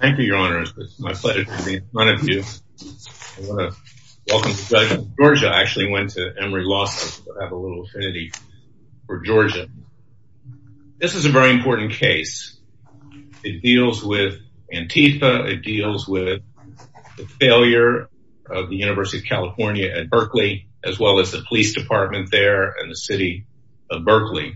Thank you, your honors. It's my pleasure to be in front of you. I want to welcome Judge Giorgia. I actually went to Emory Law School to have a little affinity for Georgia. This is a very important case. It deals with Antifa. It deals with the failure of the University of California at Berkeley, as well as the police department there and the city of Berkeley,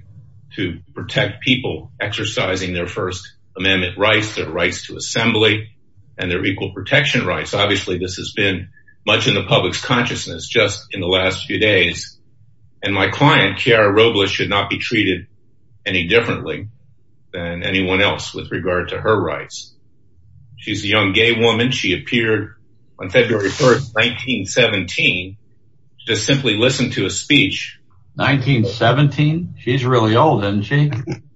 to protect people exercising their First Amendment rights, their rights to assembly, and their equal protection rights. Obviously, this has been much in the public's consciousness just in the last few days. And my client, Kiara Robles, should not be treated any differently than anyone else with regard to her rights. She's a young gay woman. She appeared on February 1st, 1917, to simply listen to a speech. 1917? She's really old, isn't she?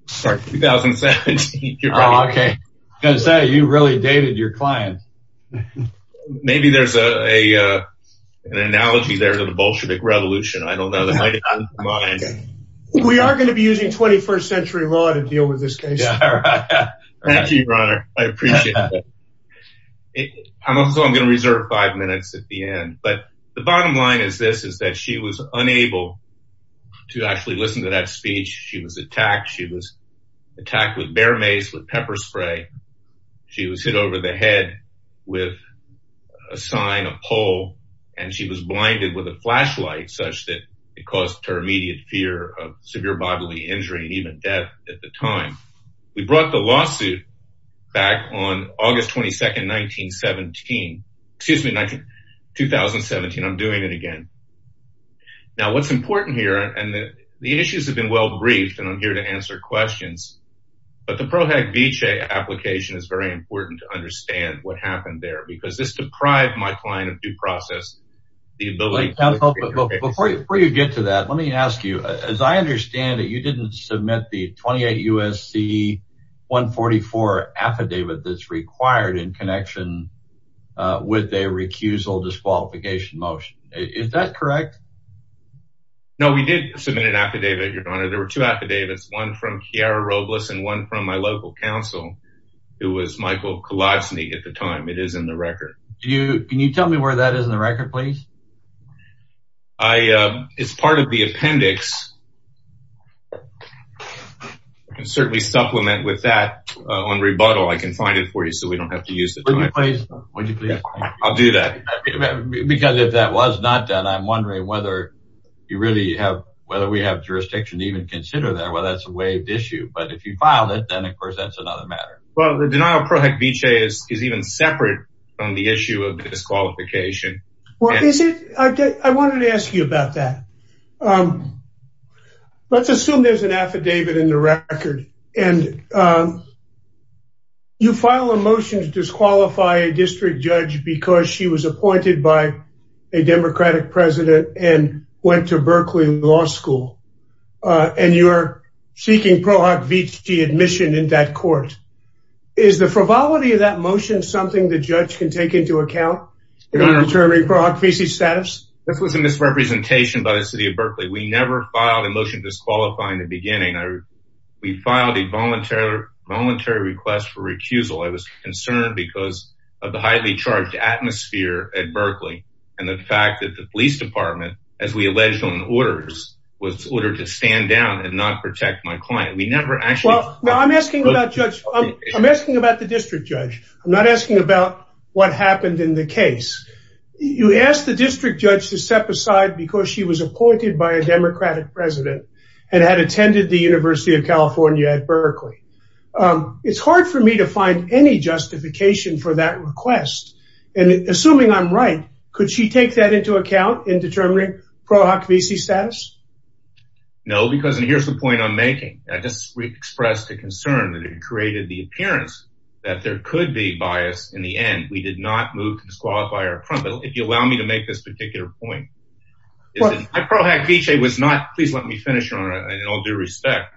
Sorry, 2017. Oh, okay. I was going to say, you really dated your client. Maybe there's an analogy there to the Bolshevik Revolution. I don't know. That might have gotten to her mind. We are going to be using 21st century law to deal with this case. Thank you, your honor. I appreciate that. I'm also going to reserve five minutes at the end. But the bottom line is this, is that she was unable to actually listen to that speech. She was attacked. She was attacked with bear mace, with pepper spray. She was hit over the head with a sign, a pole. And she was blinded with a flashlight, such that it caused her immediate fear of severe bodily injury and even death at the time. We brought the lawsuit back on August 22nd, 1917. Excuse me, 2017. I'm doing it again. Now, what's important here, and the issues have been well briefed, and I'm here to answer questions. But the Pro Hec Vicee application is very important to understand what happened there. Because this deprived my client of due process. Before you get to that, let me ask you. As I understand it, you didn't submit the 28 U.S.C. 144 affidavit that's required in connection with a recusal disqualification motion. Is that correct? No, we did submit an affidavit, your honor. There were two affidavits, one from Chiara Robles and one from my local counsel, who was Michael Kolosny at the time. It is in the record. Can you tell me where that is in the record, please? It's part of the appendix. I can certainly supplement with that on rebuttal. I can find it for you so we don't have to use it. Would you please? I'll do that. Because if that was not done, I'm wondering whether we have jurisdiction to even consider that, whether that's a waived issue. But if you filed it, then, of course, that's another matter. Well, the denial of Pro Hoc Vitae is even separate from the issue of disqualification. Well, I wanted to ask you about that. Let's assume there's an affidavit in the record, and you file a motion to disqualify a district judge because she was appointed by a Democratic president and went to Berkeley Law School. And you're seeking Pro Hoc Vitae admission in that court. Is the frivolity of that motion something the judge can take into account in determining Pro Hoc Vitae's status? This was a misrepresentation by the city of Berkeley. We never filed a motion disqualifying in the beginning. We filed a voluntary request for recusal. I was concerned because of the highly charged atmosphere at Berkeley and the fact that the police department, as we alleged on orders, was ordered to stand down and not protect my client. Well, I'm asking about the district judge. I'm not asking about what happened in the case. You asked the district judge to step aside because she was appointed by a Democratic president and had attended the University of California at Berkeley. It's hard for me to find any justification for that request. And assuming I'm right, could she take that into account in determining Pro Hoc Vitae's status? No, because here's the point I'm making. I just expressed a concern that it created the appearance that there could be bias in the end. We did not move to disqualify her. But if you allow me to make this particular point, Pro Hoc Vitae was not – please let me finish, Your Honor, in all due respect.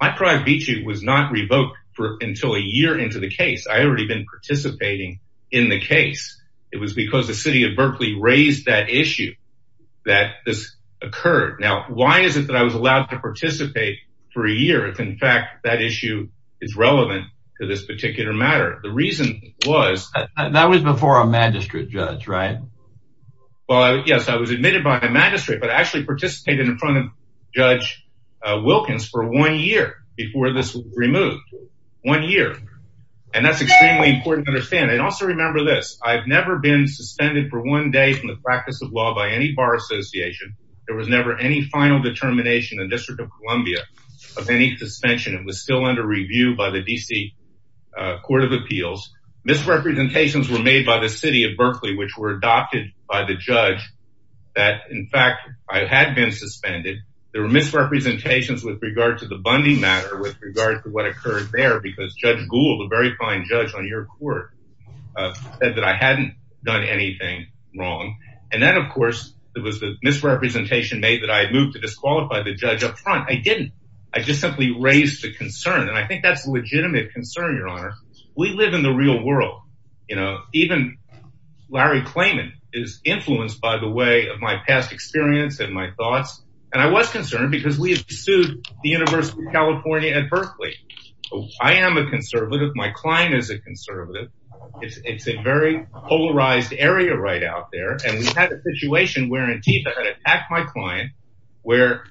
My Pro Hoc Vitae was not revoked until a year into the case. I had already been participating in the case. It was because the city of Berkeley raised that issue that this occurred. Now, why is it that I was allowed to participate for a year if, in fact, that issue is relevant to this particular matter? The reason was – That was before a magistrate judge, right? Well, yes, I was admitted by the magistrate, but I actually participated in front of Judge Wilkins for one year before this was removed. One year. And that's extremely important to understand. And also remember this. I've never been suspended for one day from the practice of law by any bar association. There was never any final determination in the District of Columbia of any suspension. It was still under review by the D.C. Court of Appeals. Misrepresentations were made by the city of Berkeley, which were adopted by the judge that, in fact, I had been suspended. There were misrepresentations with regard to the Bundy matter, with regard to what occurred there, because Judge Gould, a very fine judge on your court, said that I hadn't done anything wrong. And then, of course, there was a misrepresentation made that I had moved to disqualify the judge up front. I didn't. I just simply raised a concern, and I think that's a legitimate concern, Your Honor. We live in the real world. You know, even Larry Klayman is influenced, by the way, of my past experience and my thoughts. And I was concerned because we have sued the University of California at Berkeley. I am a conservative. My client is a conservative. It's a very polarized area right out there. And we had a situation where Antifa had attacked my client, where,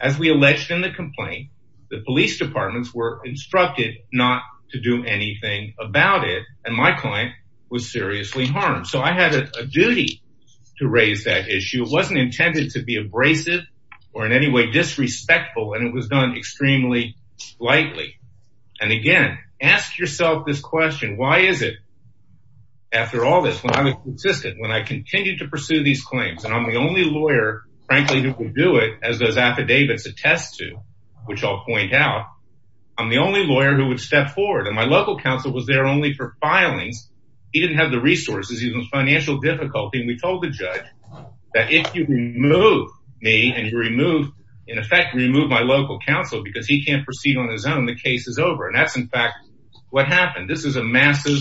as we alleged in the complaint, the police departments were instructed not to do anything about it. And my client was seriously harmed. So I had a duty to raise that issue. It wasn't intended to be abrasive or in any way disrespectful, and it was done extremely lightly. And, again, ask yourself this question. Why is it, after all this, when I was consistent, when I continued to pursue these claims, and I'm the only lawyer, frankly, who can do it, as those affidavits attest to, which I'll point out, I'm the only lawyer who would step forward. And my local counsel was there only for filings. He didn't have the resources. He was in financial difficulty. And we told the judge that if you remove me and, in effect, remove my local counsel because he can't proceed on his own, the case is over. And that's, in fact, what happened. This is a massive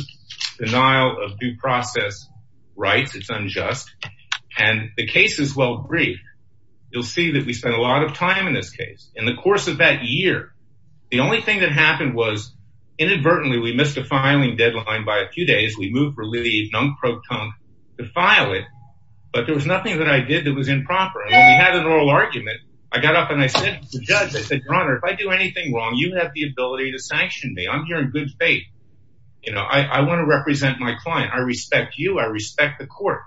denial of due process rights. It's unjust. And the case is well briefed. You'll see that we spent a lot of time in this case. In the course of that year, the only thing that happened was, inadvertently, we missed a filing deadline by a few days. We moved for leave, non-proton, to file it. But there was nothing that I did that was improper. And when we had an oral argument, I got up and I said to the judge, I said, Your Honor, if I do anything wrong, you have the ability to sanction me. I'm here in good faith. You know, I want to represent my client. I respect you. I respect the court.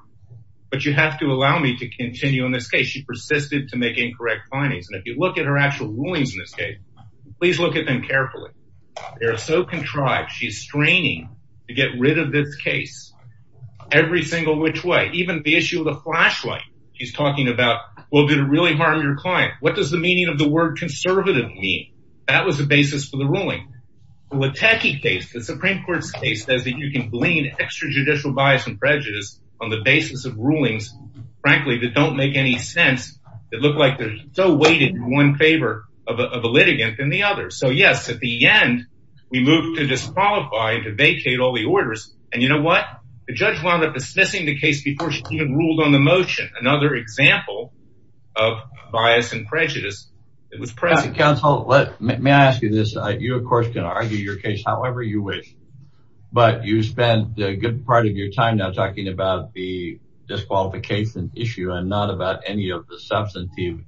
But you have to allow me to continue in this case. She persisted to make incorrect findings. And if you look at her actual rulings in this case, please look at them carefully. They are so contrived. She's straining to get rid of this case every single which way. Even the issue of the flashlight. She's talking about, well, did it really harm your client? What does the meaning of the word conservative mean? That was the basis for the ruling. The Supreme Court's case says that you can blame extrajudicial bias and prejudice on the basis of rulings, frankly, that don't make any sense. It looked like they're so weighted in one favor of a litigant than the other. So, yes, at the end, we moved to disqualify and to vacate all the orders. And you know what? The judge wound up dismissing the case before she even ruled on the motion. Another example of bias and prejudice. Counsel, may I ask you this? You, of course, can argue your case however you wish. But you spent a good part of your time now talking about the disqualification issue and not about any of the substantive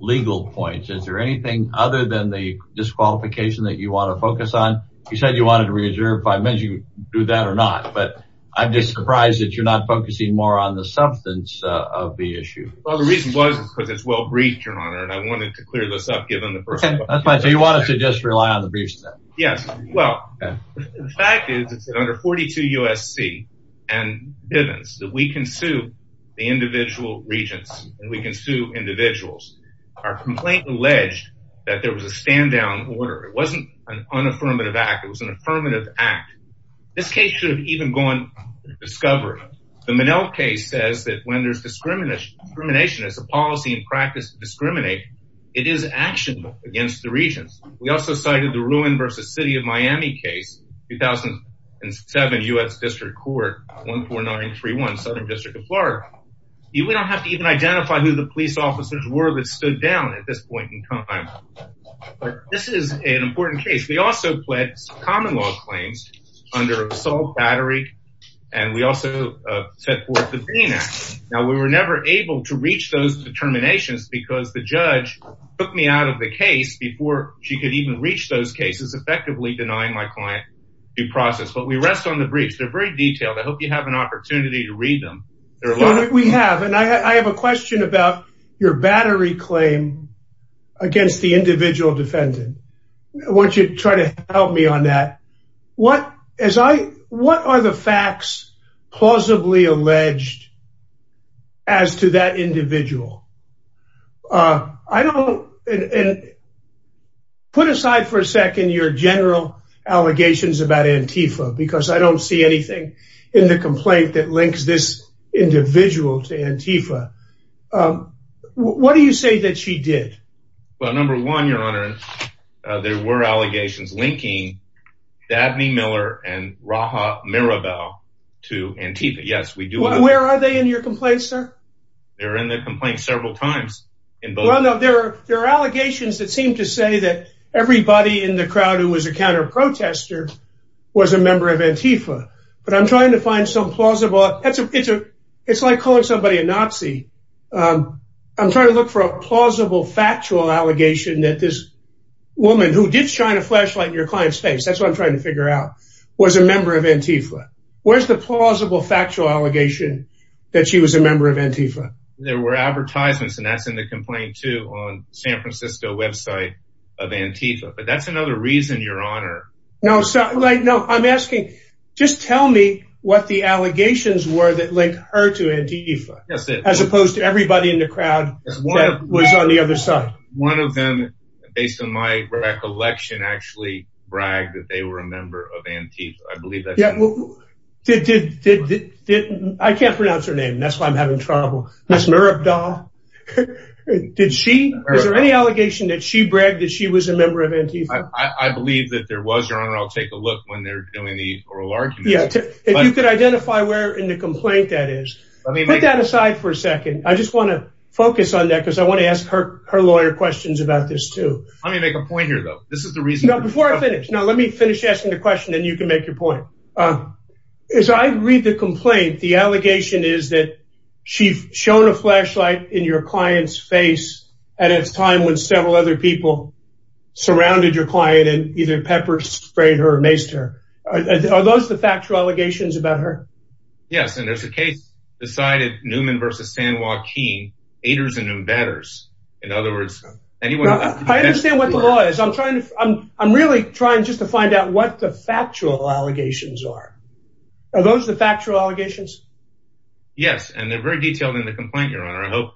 legal points. Is there anything other than the disqualification that you want to focus on? You said you wanted to reserve five minutes. You can do that or not. But I'm just surprised that you're not focusing more on the substance of the issue. Well, the reason was because it's well-briefed, Your Honor, and I wanted to clear this up. So you want us to just rely on the briefs? Yes. Well, the fact is that under 42 U.S.C. and Bivens that we can sue the individual regents and we can sue individuals. Our complaint alleged that there was a stand-down order. It wasn't an unaffirmative act. It was an affirmative act. This case should have even gone to discovery. The Minnell case says that when there's discrimination as a policy and practice to discriminate, it is actionable against the regents. We also cited the Ruin v. City of Miami case, 2007, U.S. District Court, 14931, Southern District of Florida. We don't have to even identify who the police officers were that stood down at this point in time. But this is an important case. We also pled common law claims under assault, battery, and we also set forth the Green Act. Now, we were never able to reach those determinations because the judge took me out of the case before she could even reach those cases, effectively denying my client due process. But we rest on the briefs. They're very detailed. I hope you have an opportunity to read them. We have, and I have a question about your battery claim against the individual defendant. I want you to try to help me on that. What are the facts plausibly alleged as to that individual? Put aside for a second your general allegations about Antifa because I don't see anything in the complaint that links this individual to Antifa. What do you say that she did? Well, number one, your honor, there were allegations linking Dabney Miller and Raha Mirabel to Antifa. Yes, we do. Where are they in your complaint, sir? They're in the complaint several times. Well, no, there are allegations that seem to say that everybody in the crowd who was a counter-protester was a member of Antifa. But I'm trying to find some plausible. It's like calling somebody a Nazi. I'm trying to look for a plausible factual allegation that this woman who did shine a flashlight in your client's face, that's what I'm trying to figure out, was a member of Antifa. Where's the plausible factual allegation that she was a member of Antifa? There were advertisements, and that's in the complaint, too, on San Francisco website of Antifa. But that's another reason, your honor. No, I'm asking, just tell me what the allegations were that linked her to Antifa. As opposed to everybody in the crowd that was on the other side. One of them, based on my recollection, actually bragged that they were a member of Antifa. I can't pronounce her name, and that's why I'm having trouble. Ms. Murabda? Did she? Is there any allegation that she bragged that she was a member of Antifa? I believe that there was, your honor. I'll take a look when they're doing the oral argument. If you could identify where in the complaint that is. Put that aside for a second. I just want to focus on that, because I want to ask her lawyer questions about this, too. Let me make a point here, though. Before I finish, let me finish asking the question, then you can make your point. As I read the complaint, the allegation is that she shone a flashlight in your client's face at a time when several other people surrounded your client and either pepper-sprayed her or maced her. Are those the factual allegations about her? Yes, and there's a case decided, Newman v. San Joaquin, aiders and embedders. In other words, anyone— I understand what the law is. I'm really trying just to find out what the factual allegations are. Are those the factual allegations? Yes, and they're very detailed in the complaint, your honor.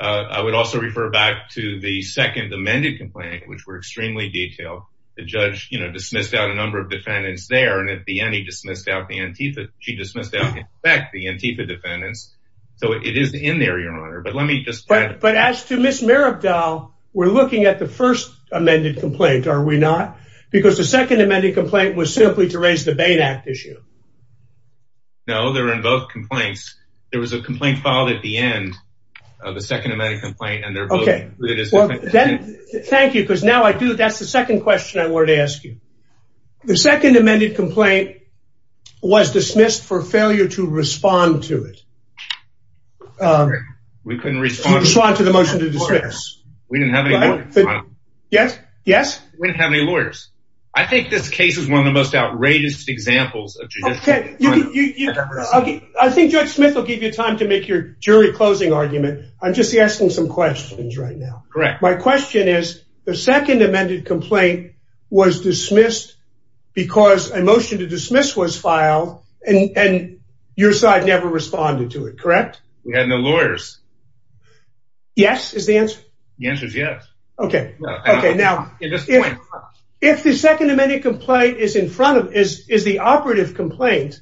I would also refer back to the second amended complaint, which were extremely detailed. The judge dismissed out a number of defendants there, and at the end, he dismissed out the Antifa. She dismissed out, in fact, the Antifa defendants, so it is in there, your honor. But let me just add— But as to Ms. Marabdal, we're looking at the first amended complaint, are we not? Because the second amended complaint was simply to raise the Bain Act issue. No, they're in both complaints. There was a complaint filed at the end of the second amended complaint, and they're both— Thank you, because now I do—that's the second question I wanted to ask you. The second amended complaint was dismissed for failure to respond to it. We couldn't respond to it. Respond to the motion to dismiss. We didn't have any lawyers. Yes? Yes? We didn't have any lawyers. I think this case is one of the most outrageous examples of judicial— I think Judge Smith will give you time to make your jury closing argument. I'm just asking some questions right now. Correct. My question is, the second amended complaint was dismissed because a motion to dismiss was filed, and your side never responded to it, correct? We had no lawyers. Yes is the answer? The answer is yes. Okay. Okay, now— At this point— If the second amended complaint is in front of—is the operative complaint,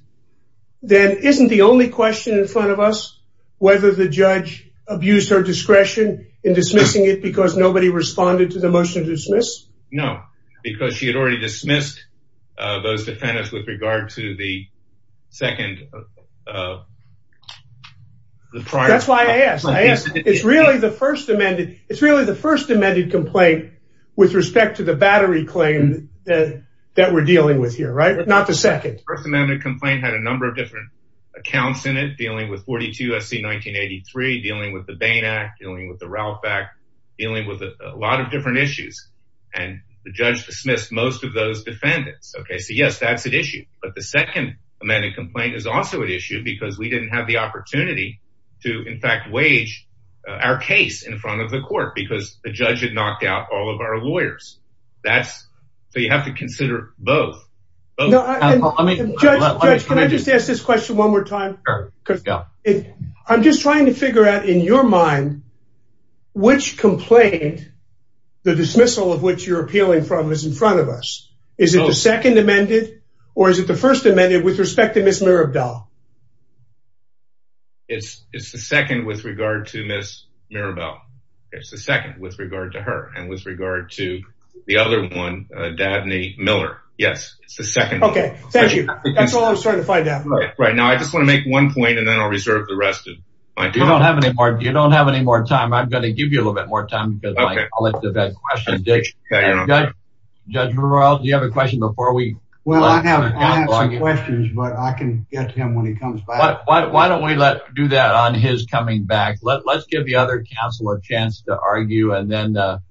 then isn't the only question in front of us whether the judge abused her discretion in dismissing it because nobody responded to the motion to dismiss? No, because she had already dismissed those defendants with regard to the second— That's why I asked. I asked. It's really the first amended complaint with respect to the battery claim that we're dealing with here, right? Not the second. The first amended complaint had a number of different accounts in it, dealing with 42 SC 1983, dealing with the Bain Act, dealing with the Ralph Act, dealing with a lot of different issues, and the judge dismissed most of those defendants. Okay, so yes, that's at issue, but the second amended complaint is also at issue because we didn't have the opportunity to, in fact, wage our case in front of the court because the judge had knocked out all of our lawyers. That's—so you have to consider both. Judge, can I just ask this question one more time? Sure. I'm just trying to figure out, in your mind, which complaint, the dismissal of which you're appealing from, is in front of us. Is it the second amended or is it the first amended with respect to Ms. Mirabal? It's the second with regard to Ms. Mirabal. It's the second with regard to her and with regard to the other one, Dabney Miller. Yes, it's the second one. Okay, thank you. That's all I was trying to find out. Right. Now, I just want to make one point, and then I'll reserve the rest of my time. You don't have any more time. I'm going to give you a little bit more time because I'll let you ask that question, Dick. Okay. Judge, do you have a question before we— Well, I have some questions, but I can get to him when he comes back. Why don't we do that on his coming back? Let's give the other counsel a chance to argue, and then Mr.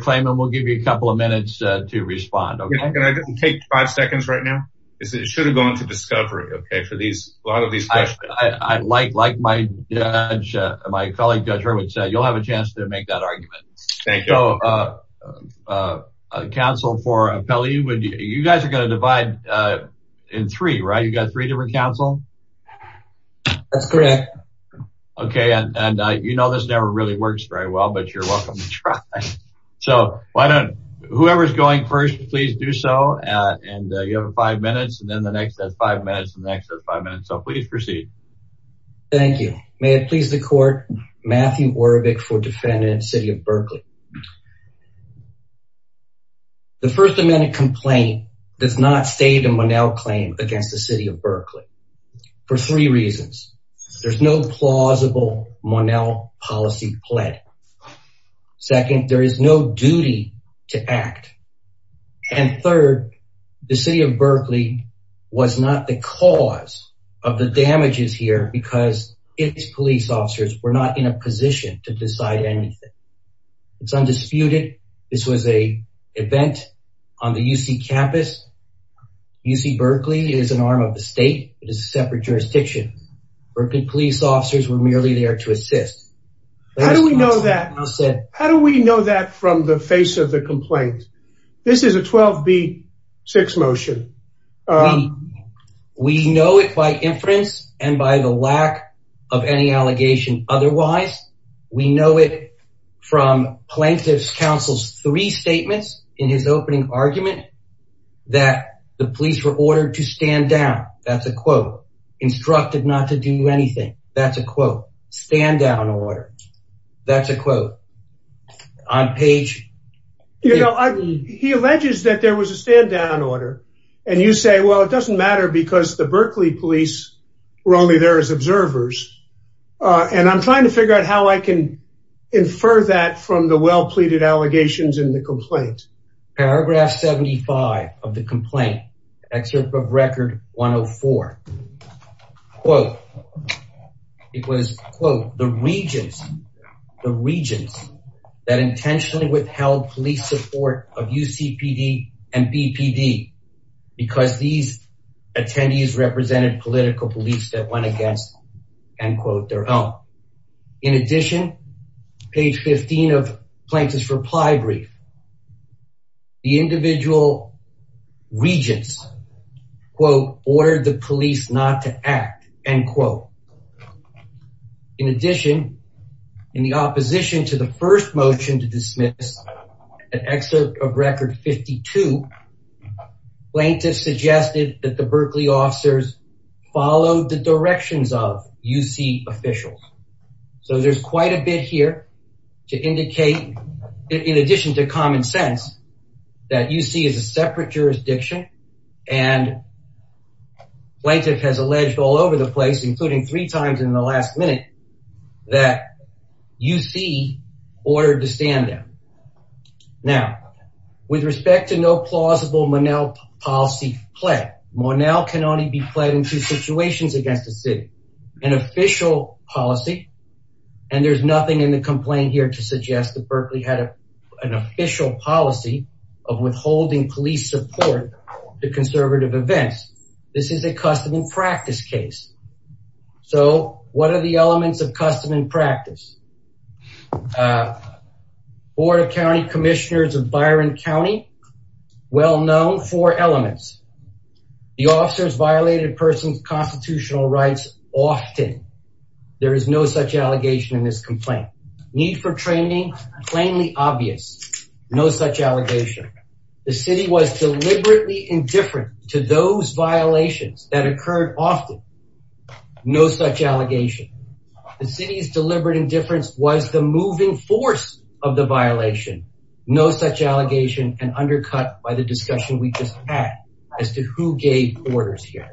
Klayman will give you a couple of minutes to respond, okay? Can I take five seconds right now? It should have gone to discovery, okay, for a lot of these questions. Like my colleague Judge Hurwitz said, you'll have a chance to make that argument. Thank you. So, counsel for Appellee, you guys are going to divide in three, right? You've got three different counsel? That's correct. Okay, and you know this never really works very well, but you're welcome to try. So, whoever's going first, please do so, and you have five minutes, and then the next has five minutes, and the next has five minutes. So, please proceed. Thank you. May it please the court, Matthew Warbeck for defendant, City of Berkeley. The First Amendment complaint does not state a Monell claim against the City of Berkeley for three reasons. There's no plausible Monell policy play. Second, there is no duty to act. And third, the City of Berkeley was not the cause of the damages here because its police officers were not in a position to decide anything. It's undisputed. This was a event on the UC campus. UC Berkeley is an arm of the state. It is a separate jurisdiction. Berkeley police officers were merely there to assist. How do we know that from the face of the complaint? This is a 12B6 motion. We know it by inference and by the lack of any allegation otherwise. We know it from Plaintiff's Counsel's three statements in his opening argument that the police were ordered to stand down. That's a quote. Instructed not to do anything. That's a quote. Stand down order. That's a quote. On page... You know, he alleges that there was a stand down order. And you say, well, it doesn't matter because the Berkeley police were only there as observers. And I'm trying to figure out how I can infer that from the well-pleaded allegations in the complaint. Paragraph 75 of the complaint, excerpt from Record 104. Quote. It was, quote, the regents, the regents that intentionally withheld police support of UCPD and BPD because these attendees represented political police that went against, end quote, their own. In addition, page 15 of Plaintiff's reply brief. The individual regents, quote, ordered the police not to act, end quote. In addition, in the opposition to the first motion to dismiss an excerpt of Record 52, Plaintiff suggested that the Berkeley officers followed the directions of UC officials. So there's quite a bit here to indicate, in addition to common sense, that UC is a separate jurisdiction. And Plaintiff has alleged all over the place, including three times in the last minute, that UC ordered the stand down. Now, with respect to no plausible Monell policy play, Monell can only be played in two situations against the city, an official policy. And there's nothing in the complaint here to suggest that Berkeley had an official policy of withholding police support to conservative events. This is a custom and practice case. So what are the elements of custom and practice? Board of County Commissioners of Byron County, well known for elements. The officers violated a person's constitutional rights often. There is no such allegation in this complaint. Need for training, plainly obvious. No such allegation. The city was deliberately indifferent to those violations that occurred often. No such allegation. The city's deliberate indifference was the moving force of the violation. No such allegation and undercut by the discussion we just had as to who gave orders here.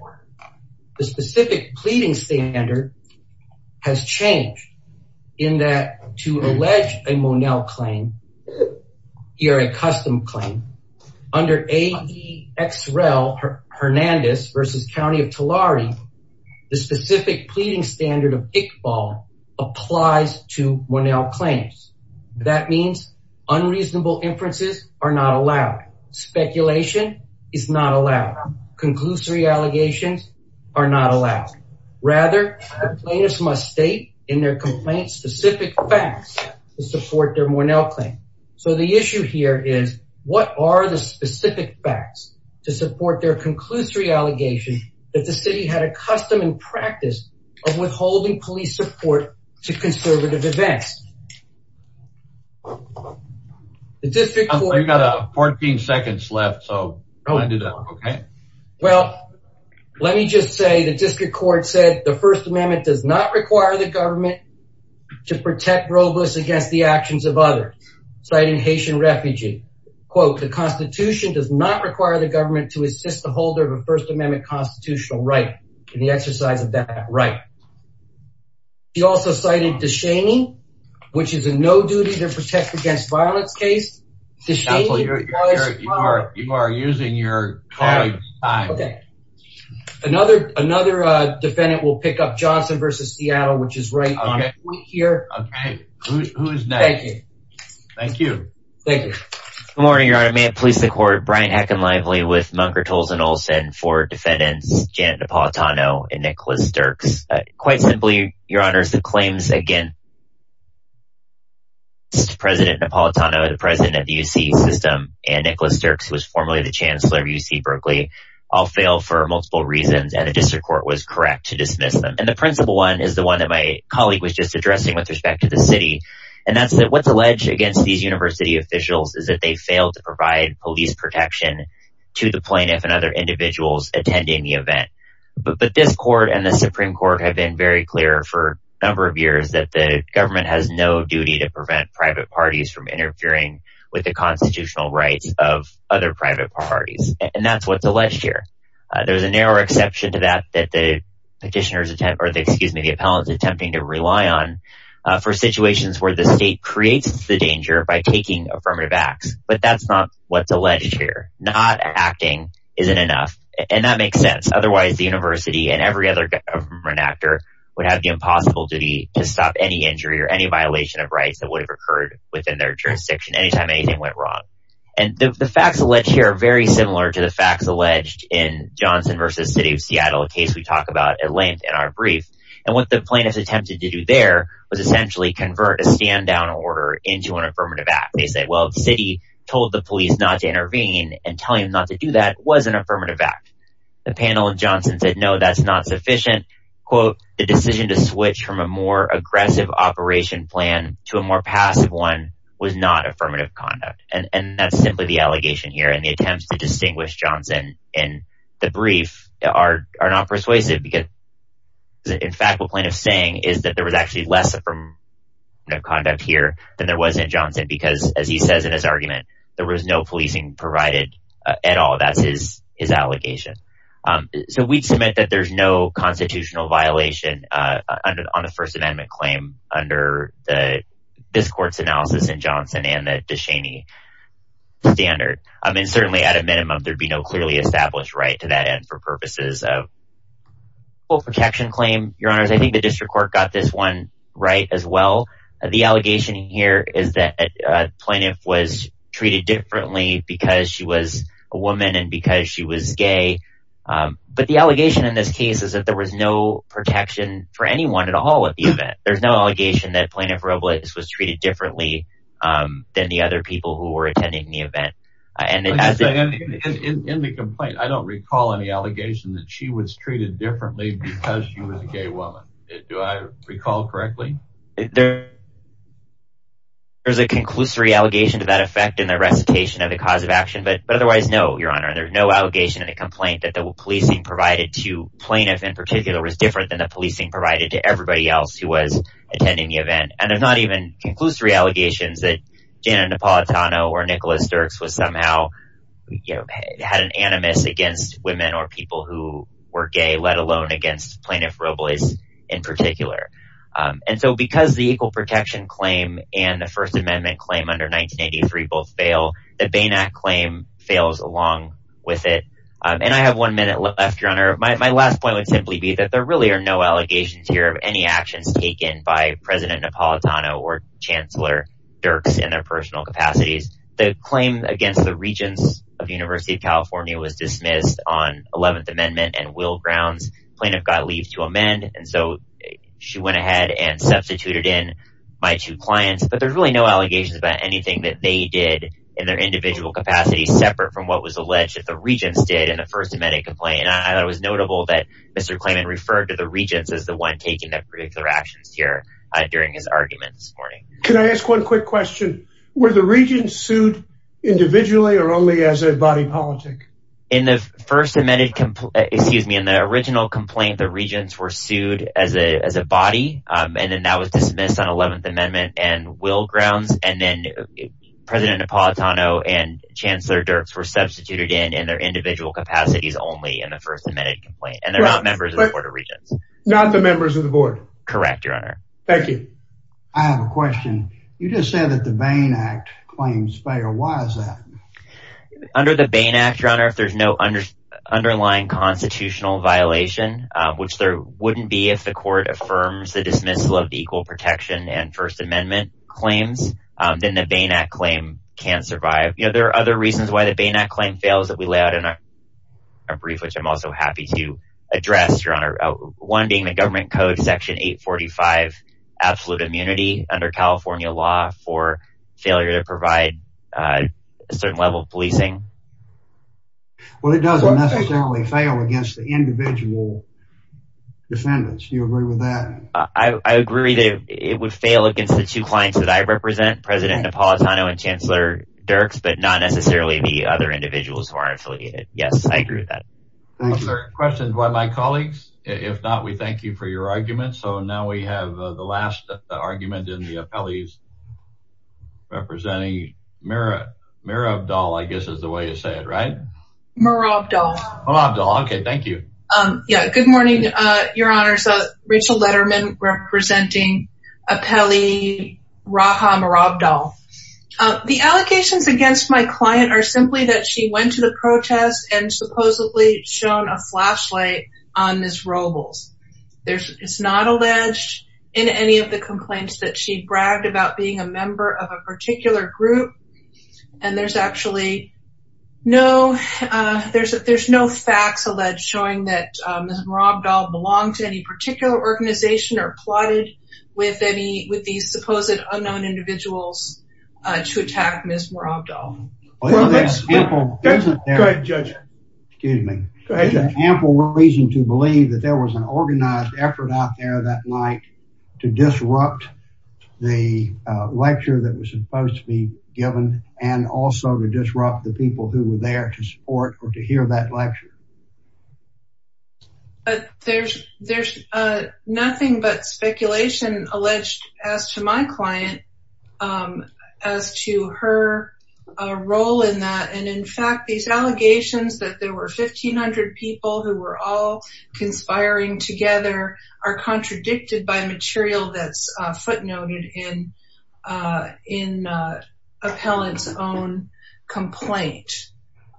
The specific pleading standard has changed in that to allege a Monell claim, or a custom claim, under ADXREL Hernandez versus County of Tulare. The specific pleading standard of Iqbal applies to Monell claims. That means unreasonable inferences are not allowed. Speculation is not allowed. Conclusory allegations are not allowed. Rather, plaintiffs must state in their complaints specific facts to support their Monell claim. So the issue here is, what are the specific facts to support their conclusory allegations that the city had a custom and practice of withholding police support to conservative events? I've got 14 seconds left, so I'll do that, okay? Well, let me just say the district court said the First Amendment does not require the government to protect rogues against the actions of others, citing Haitian refugee. Quote, the Constitution does not require the government to assist the holder of a First Amendment constitutional right in the exercise of that right. She also cited de Cheney, which is a no-duty-to-protect-against-violence case. Counsel, you are using your time. Another defendant will pick up Johnson v. Seattle, which is right here. Who's next? Thank you. Thank you. Good morning, Your Honor. May it please the Court. Brian Hacken-Lively with Munker, Tolles & Olsen for defendants Janet Napolitano and Nicholas Dirks. Quite simply, Your Honor, the claims against President Napolitano, the president of the UC system, and Nicholas Dirks, who was formerly the chancellor of UC Berkeley, all failed for multiple reasons, and the district court was correct to dismiss them. And the principal one is the one that my colleague was just addressing with respect to the city, and that's that what's alleged against these university officials is that they failed to provide police protection to the plaintiff and other individuals attending the event. But this court and the Supreme Court have been very clear for a number of years that the government has no duty to prevent private parties from interfering with the constitutional rights of other private parties. And that's what's alleged here. There's a narrow exception to that that the petitioner's attempt, or excuse me, the appellant's attempting to rely on for situations where the state creates the danger by taking affirmative acts. But that's not what's alleged here. Not acting isn't enough, and that makes sense. Otherwise, the university and every other government actor would have the impossible duty to stop any injury or any violation of rights that would have occurred within their jurisdiction any time anything went wrong. And the facts alleged here are very similar to the facts alleged in Johnson v. City of Seattle, a case we talk about at length in our brief. And what the plaintiffs attempted to do there was essentially convert a stand-down order into an affirmative act. They said, well, the city told the police not to intervene, and telling them not to do that was an affirmative act. The panel of Johnson said, no, that's not sufficient. Quote, the decision to switch from a more aggressive operation plan to a more passive one was not affirmative conduct. And that's simply the allegation here. And the attempts to distinguish Johnson in the brief are not persuasive because, in fact, what the plaintiff's saying is that there was actually less affirmative conduct here than there was in Johnson because, as he says in his argument, there was no policing provided at all. That's his allegation. So we'd submit that there's no constitutional violation on the First Amendment claim under this court's analysis in Johnson and the DeShaney standard. And certainly, at a minimum, there'd be no clearly established right to that end for purposes of full protection claim. Your Honors, I think the district court got this one right as well. The allegation here is that the plaintiff was treated differently because she was a woman and because she was gay. But the allegation in this case is that there was no protection for anyone at all at the event. There's no allegation that Plaintiff Robles was treated differently than the other people who were attending the event. In the complaint, I don't recall any allegation that she was treated differently because she was a gay woman. Do I recall correctly? There's a conclusory allegation to that effect in the recitation of the cause of action. But otherwise, no, Your Honor. There's no allegation in the complaint that the policing provided to plaintiff in particular was different than the policing provided to everybody else who was attending the event. And there's not even conclusory allegations that Janet Napolitano or Nicholas Dirks had an animus against women or people who were gay, let alone against Plaintiff Robles in particular. And so because the Equal Protection Claim and the First Amendment Claim under 1983 both fail, the Bain Act Claim fails along with it. And I have one minute left, Your Honor. My last point would simply be that there really are no allegations here of any actions taken by President Napolitano or Chancellor Dirks in their personal capacities. The claim against the Regents of the University of California was dismissed on 11th Amendment and will grounds. Plaintiff got leave to amend, and so she went ahead and substituted in my two clients. But there's really no allegations about anything that they did in their individual capacities separate from what was alleged that the Regents did in the First Amendment Complaint. And I thought it was notable that Mr. Klayman referred to the Regents as the one taking their particular actions here during his argument this morning. Can I ask one quick question? Were the Regents sued individually or only as a body politic? In the original complaint, the Regents were sued as a body, and then that was dismissed on 11th Amendment and will grounds. And then President Napolitano and Chancellor Dirks were substituted in in their individual capacities only in the First Amendment Complaint, and they're not members of the Board of Regents. Not the members of the Board? Correct, Your Honor. Thank you. I have a question. You just said that the Bain Act Claims fail. Why is that? Under the Bain Act, Your Honor, if there's no underlying constitutional violation, which there wouldn't be if the court affirms the dismissal of the Equal Protection and First Amendment Claims, then the Bain Act Claim can't survive. There are other reasons why the Bain Act Claim fails that we lay out in our brief, which I'm also happy to address, Your Honor, one being the Government Code Section 845, Absolute Immunity, under California law for failure to provide a certain level of policing. Well, it doesn't necessarily fail against the individual defendants. Do you agree with that? I agree that it would fail against the two clients that I represent, President Napolitano and Chancellor Dirks, but not necessarily the other individuals who aren't affiliated. Yes, I agree with that. Thank you. Other questions by my colleagues? If not, we thank you for your argument. So now we have the last argument in the appellees representing Mirabdol, I guess is the way you say it, right? Mirabdol. Mirabdol. Okay. Thank you. Yeah. Good morning, Your Honors. Rachel Letterman representing appellee Raha Mirabdol. The allegations against my client are simply that she went to the protest and supposedly shone a flashlight on Ms. Robles. It's not alleged in any of the complaints that she bragged about being a member of a particular group. And there's actually no facts alleged showing that Ms. Mirabdol belonged to any particular organization or plotted with these supposed unknown individuals to attack Ms. Mirabdol. Go ahead, Judge. Excuse me. Go ahead. There's no reason to believe that there was an organized effort out there that night to disrupt the lecture that was supposed to be given and also to disrupt the people who were there to support or to hear that lecture. There's nothing but speculation alleged as to my client as to her role in that. And, in fact, these allegations that there were 1,500 people who were all conspiring together are contradicted by material that's footnoted in appellant's own complaint.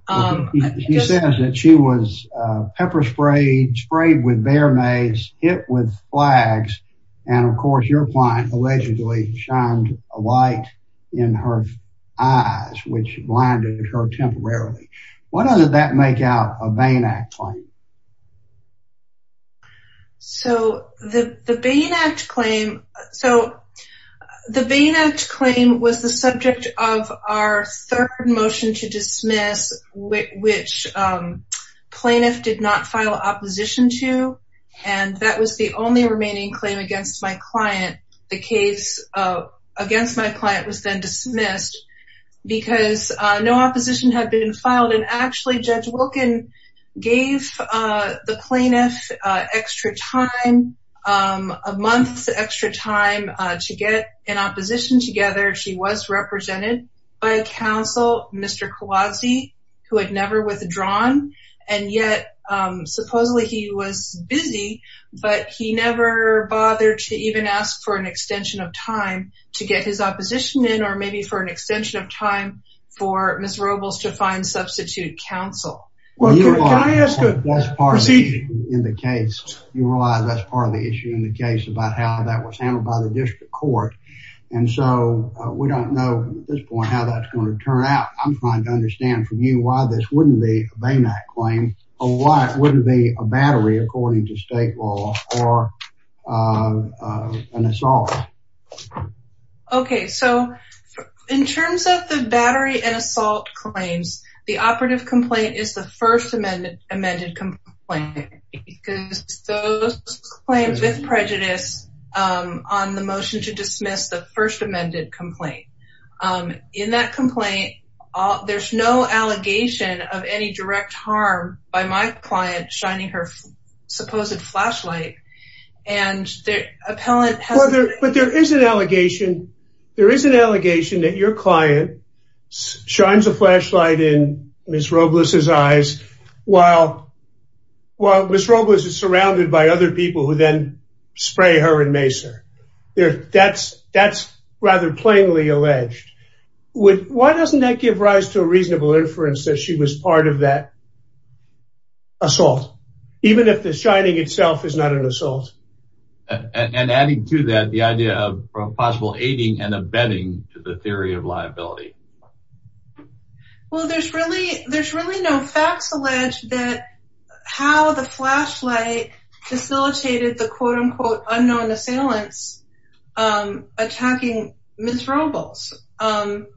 She says that she was pepper sprayed, sprayed with bear mace, hit with flags, and, of course, your client allegedly shined a light in her eyes, which blinded her temporarily. Why does that make out a Bain Act claim? So the Bain Act claim was the subject of our third motion to dismiss, which plaintiff did not file opposition to, and that was the only remaining claim against my client. The case against my client was then dismissed because no opposition had been filed. And, actually, Judge Wilkin gave the plaintiff extra time, a month's extra time to get an opposition together. She was represented by a counsel, Mr. Kowalski, who had never withdrawn. And yet, supposedly, he was busy, but he never bothered to even ask for an extension of time to get his opposition in or maybe for an extension of time for Ms. Robles to find substitute counsel. Can I ask a proceeding? You realize that's part of the issue in the case about how that was handled by the district court. And so we don't know at this point how that's going to turn out. I'm trying to understand from you why this wouldn't be a Bain Act claim or why it wouldn't be a battery, according to state law, or an assault. Okay, so in terms of the battery and assault claims, the operative complaint is the first amended complaint because those claims with prejudice on the motion to dismiss the first amended complaint. In that complaint, there's no allegation of any direct harm by my client shining her supposed flashlight. But there is an allegation that your client shines a flashlight in Ms. Robles' eyes while Ms. Robles is surrounded by other people who then spray her and mace her. That's rather plainly alleged. Why doesn't that give rise to a reasonable inference that she was part of that assault, even if the shining itself is not an assault? And adding to that the idea of possible aiding and abetting to the theory of liability. Well, there's really no facts alleged that how the flashlight facilitated the quote-unquote unknown assailants attacking Ms. Robles. And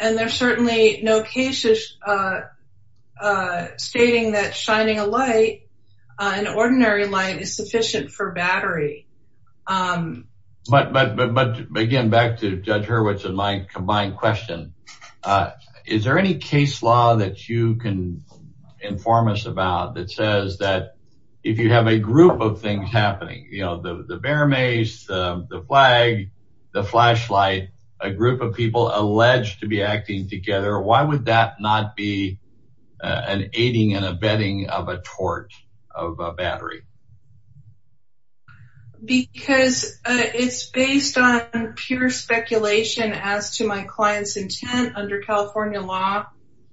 there's certainly no cases stating that shining a light, an ordinary light, is sufficient for battery. But again, back to Judge Hurwitz and my combined question, is there any case law that you can inform us about that says that if you have a group of things happening, the bear mace, the flag, the flashlight, a group of people alleged to be acting together, why would that not be an aiding and abetting of a tort of a battery? Because it's based on pure speculation as to my client's intent under California law,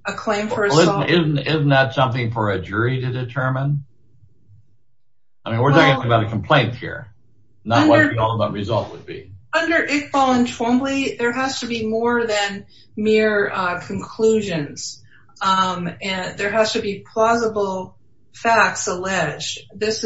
a claim for assault. Isn't that something for a jury to determine? I mean, we're talking about a complaint here, not what the ultimate result would be. Under Iqbal and Twombly, there has to be more than mere conclusions. There has to be plausible facts alleged. With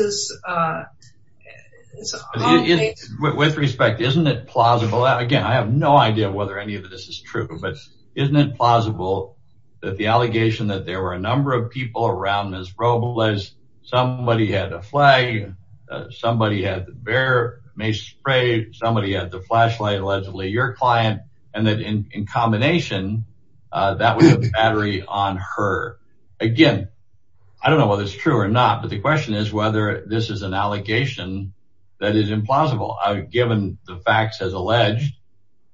respect, isn't it plausible? Again, I have no idea whether any of this is true, but isn't it plausible that the allegation that there were a number of people around Ms. Robles, somebody had a flag, somebody had the bear mace spray, somebody had the flashlight, allegedly your client, and that in combination, that was a battery on her. Again, I don't know whether it's true or not, but the question is whether this is an allegation that is implausible. Given the facts as alleged,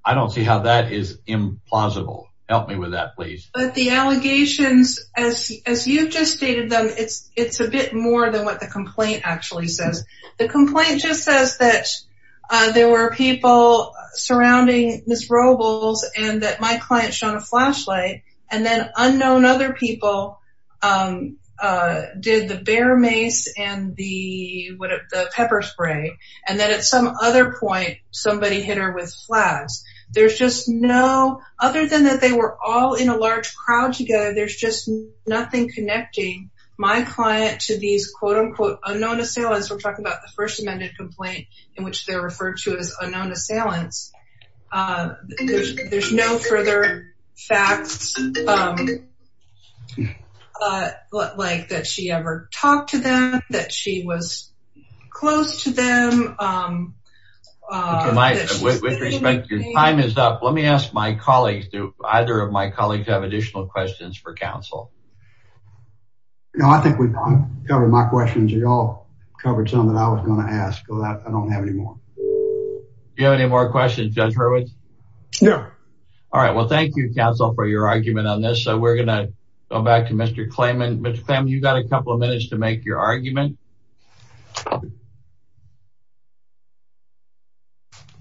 I don't see how that is implausible. Help me with that, please. But the allegations, as you've just stated them, it's a bit more than what the complaint actually says. The complaint just says that there were people surrounding Ms. Robles and that my client shone a flashlight, and then unknown other people did the bear mace and the pepper spray, and then at some other point, somebody hit her with flags. There's just no, other than that they were all in a large crowd together, there's just nothing connecting my client to these, quote-unquote, unknown assailants. We're talking about the first amended complaint in which they're referred to as unknown assailants. There's no further facts like that she ever talked to them, that she was close to them. With respect, your time is up. Let me ask my colleagues, do either of my colleagues have additional questions for counsel? No, I think we've covered my questions. You all covered some that I was going to ask, but I don't have any more. Do you have any more questions, Judge Hurwitz? No. All right, well, thank you, counsel, for your argument on this. So we're going to go back to Mr. Klayman. Mr. Klayman, you've got a couple of minutes to make your argument.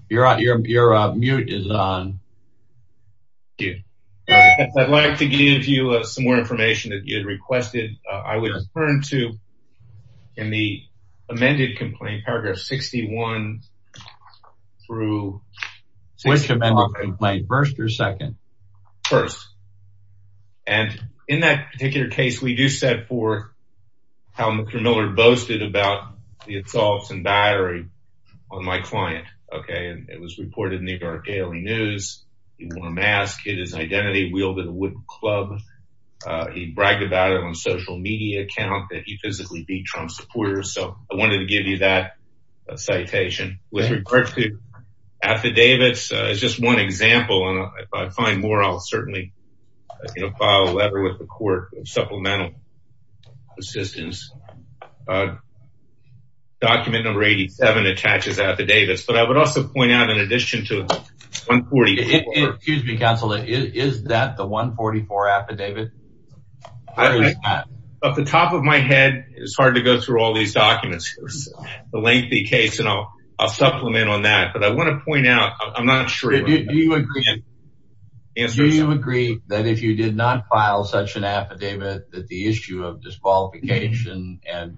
Your mute is on. Thank you. I'd like to give you some more information that you had requested. I would turn to, in the amended complaint, paragraph 61 through 64. Which amended complaint, first or second? First. And in that particular case, we do set forth how Mr. Miller boasted about the assaults and battery on my client. Okay, and it was reported in the New York Daily News. He wore a mask, hid his identity, wielded a wooden club. He bragged about it on a social media account that he physically beat Trump supporters. So I wanted to give you that citation. With regard to affidavits, it's just one example. And if I find more, I'll certainly file a letter with the court of supplemental assistance. Document number 87 attaches affidavits. But I would also point out, in addition to 144. Excuse me, counsel, is that the 144 affidavit? At the top of my head, it's hard to go through all these documents. It's a lengthy case, and I'll supplement on that. But I want to point out, I'm not sure. Do you agree that if you did not file such an affidavit, that the issue of disqualification and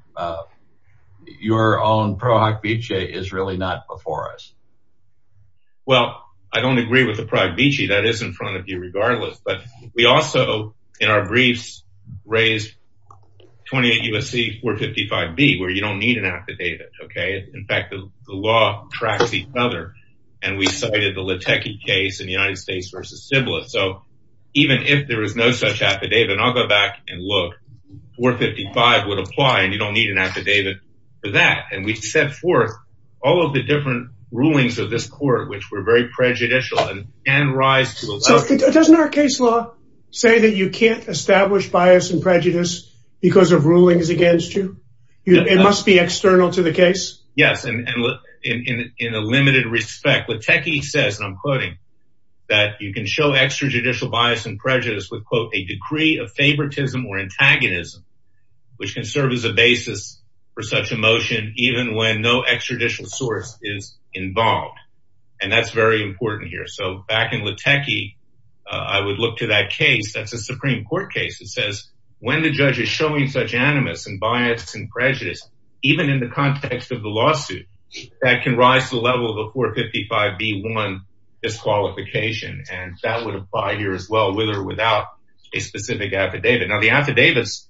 your own pro hoc vici is really not before us? Well, I don't agree with the pro hoc vici. That is in front of you regardless. But we also, in our briefs, raised 28 U.S.C. 455B, where you don't need an affidavit. In fact, the law tracks each other. And we cited the Lateke case in the United States versus Sybilis. So even if there is no such affidavit, and I'll go back and look, 455 would apply, and you don't need an affidavit for that. And we've set forth all of the different rulings of this court, which were very prejudicial. So doesn't our case law say that you can't establish bias and prejudice because of rulings against you? It must be external to the case? Yes. And in a limited respect, Lateke says, and I'm quoting, that you can show extrajudicial bias and prejudice with, quote, a decree of favoritism or antagonism, which can serve as a basis for such a motion, even when no extrajudicial source is involved. And that's very important here. So back in Lateke, I would look to that case. That's a Supreme Court case that says, when the judge is showing such animus and bias and prejudice, even in the context of the lawsuit, that can rise to the level of a 455B1 disqualification. And that would apply here as well, with or without a specific affidavit. Now, the affidavits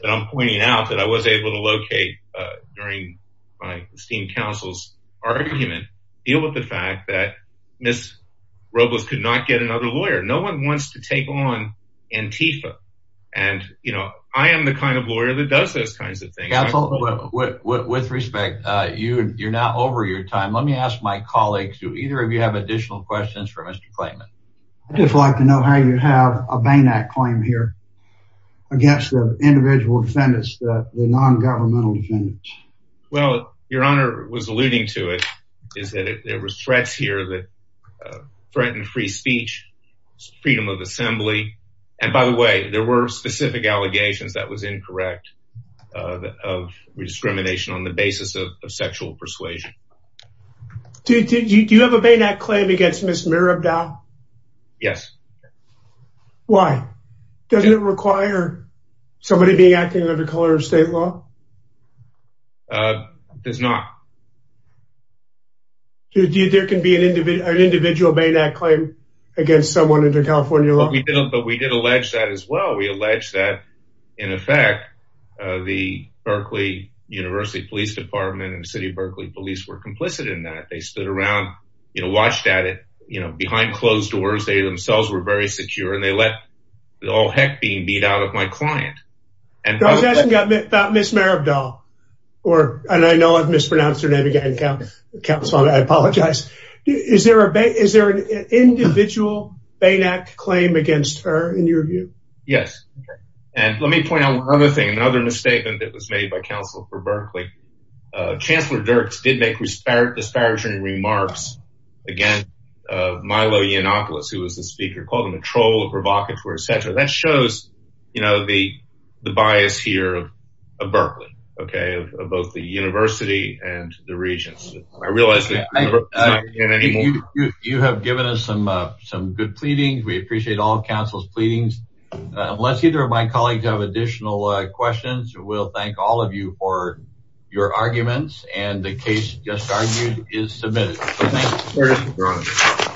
that I'm pointing out, that I was able to locate during my esteemed counsel's argument, deal with the fact that Ms. Robles could not get another lawyer. No one wants to take on Antifa. And, you know, I am the kind of lawyer that does those kinds of things. Counsel, with respect, you're now over your time. Let me ask my colleagues, do either of you have additional questions for Mr. Clayman? I'd just like to know how you have a BANAC claim here against the individual defendants, the non-governmental defendants. Well, Your Honor was alluding to it, is that there were threats here that threatened free speech, freedom of assembly. And by the way, there were specific allegations that was incorrect of rediscrimination on the basis of sexual persuasion. Do you have a BANAC claim against Ms. Mirabda? Yes. Why? Doesn't it require somebody being acting under the color of state law? It does not. There can be an individual BANAC claim against someone under California law? No, but we did allege that as well. We allege that, in effect, the Berkeley University Police Department and the City of Berkeley Police were complicit in that. They stood around, you know, watched at it, you know, behind closed doors. They themselves were very secure, and they let all heck being beat out of my client. I was asking about Ms. Mirabda, and I know I've mispronounced her name again, counsel, I apologize. Is there an individual BANAC claim against her, in your view? Yes. And let me point out another thing, another misstatement that was made by counsel for Berkeley. Chancellor Dirks did make disparaging remarks against Milo Yiannopoulos, who was the speaker, called him a troll, a provocateur, etc. That shows, you know, the bias here of Berkeley, okay, of both the university and the regents. You have given us some good pleadings. We appreciate all counsel's pleadings. Unless either of my colleagues have additional questions, we'll thank all of you for your arguments, and the case just argued is submitted. Thank you.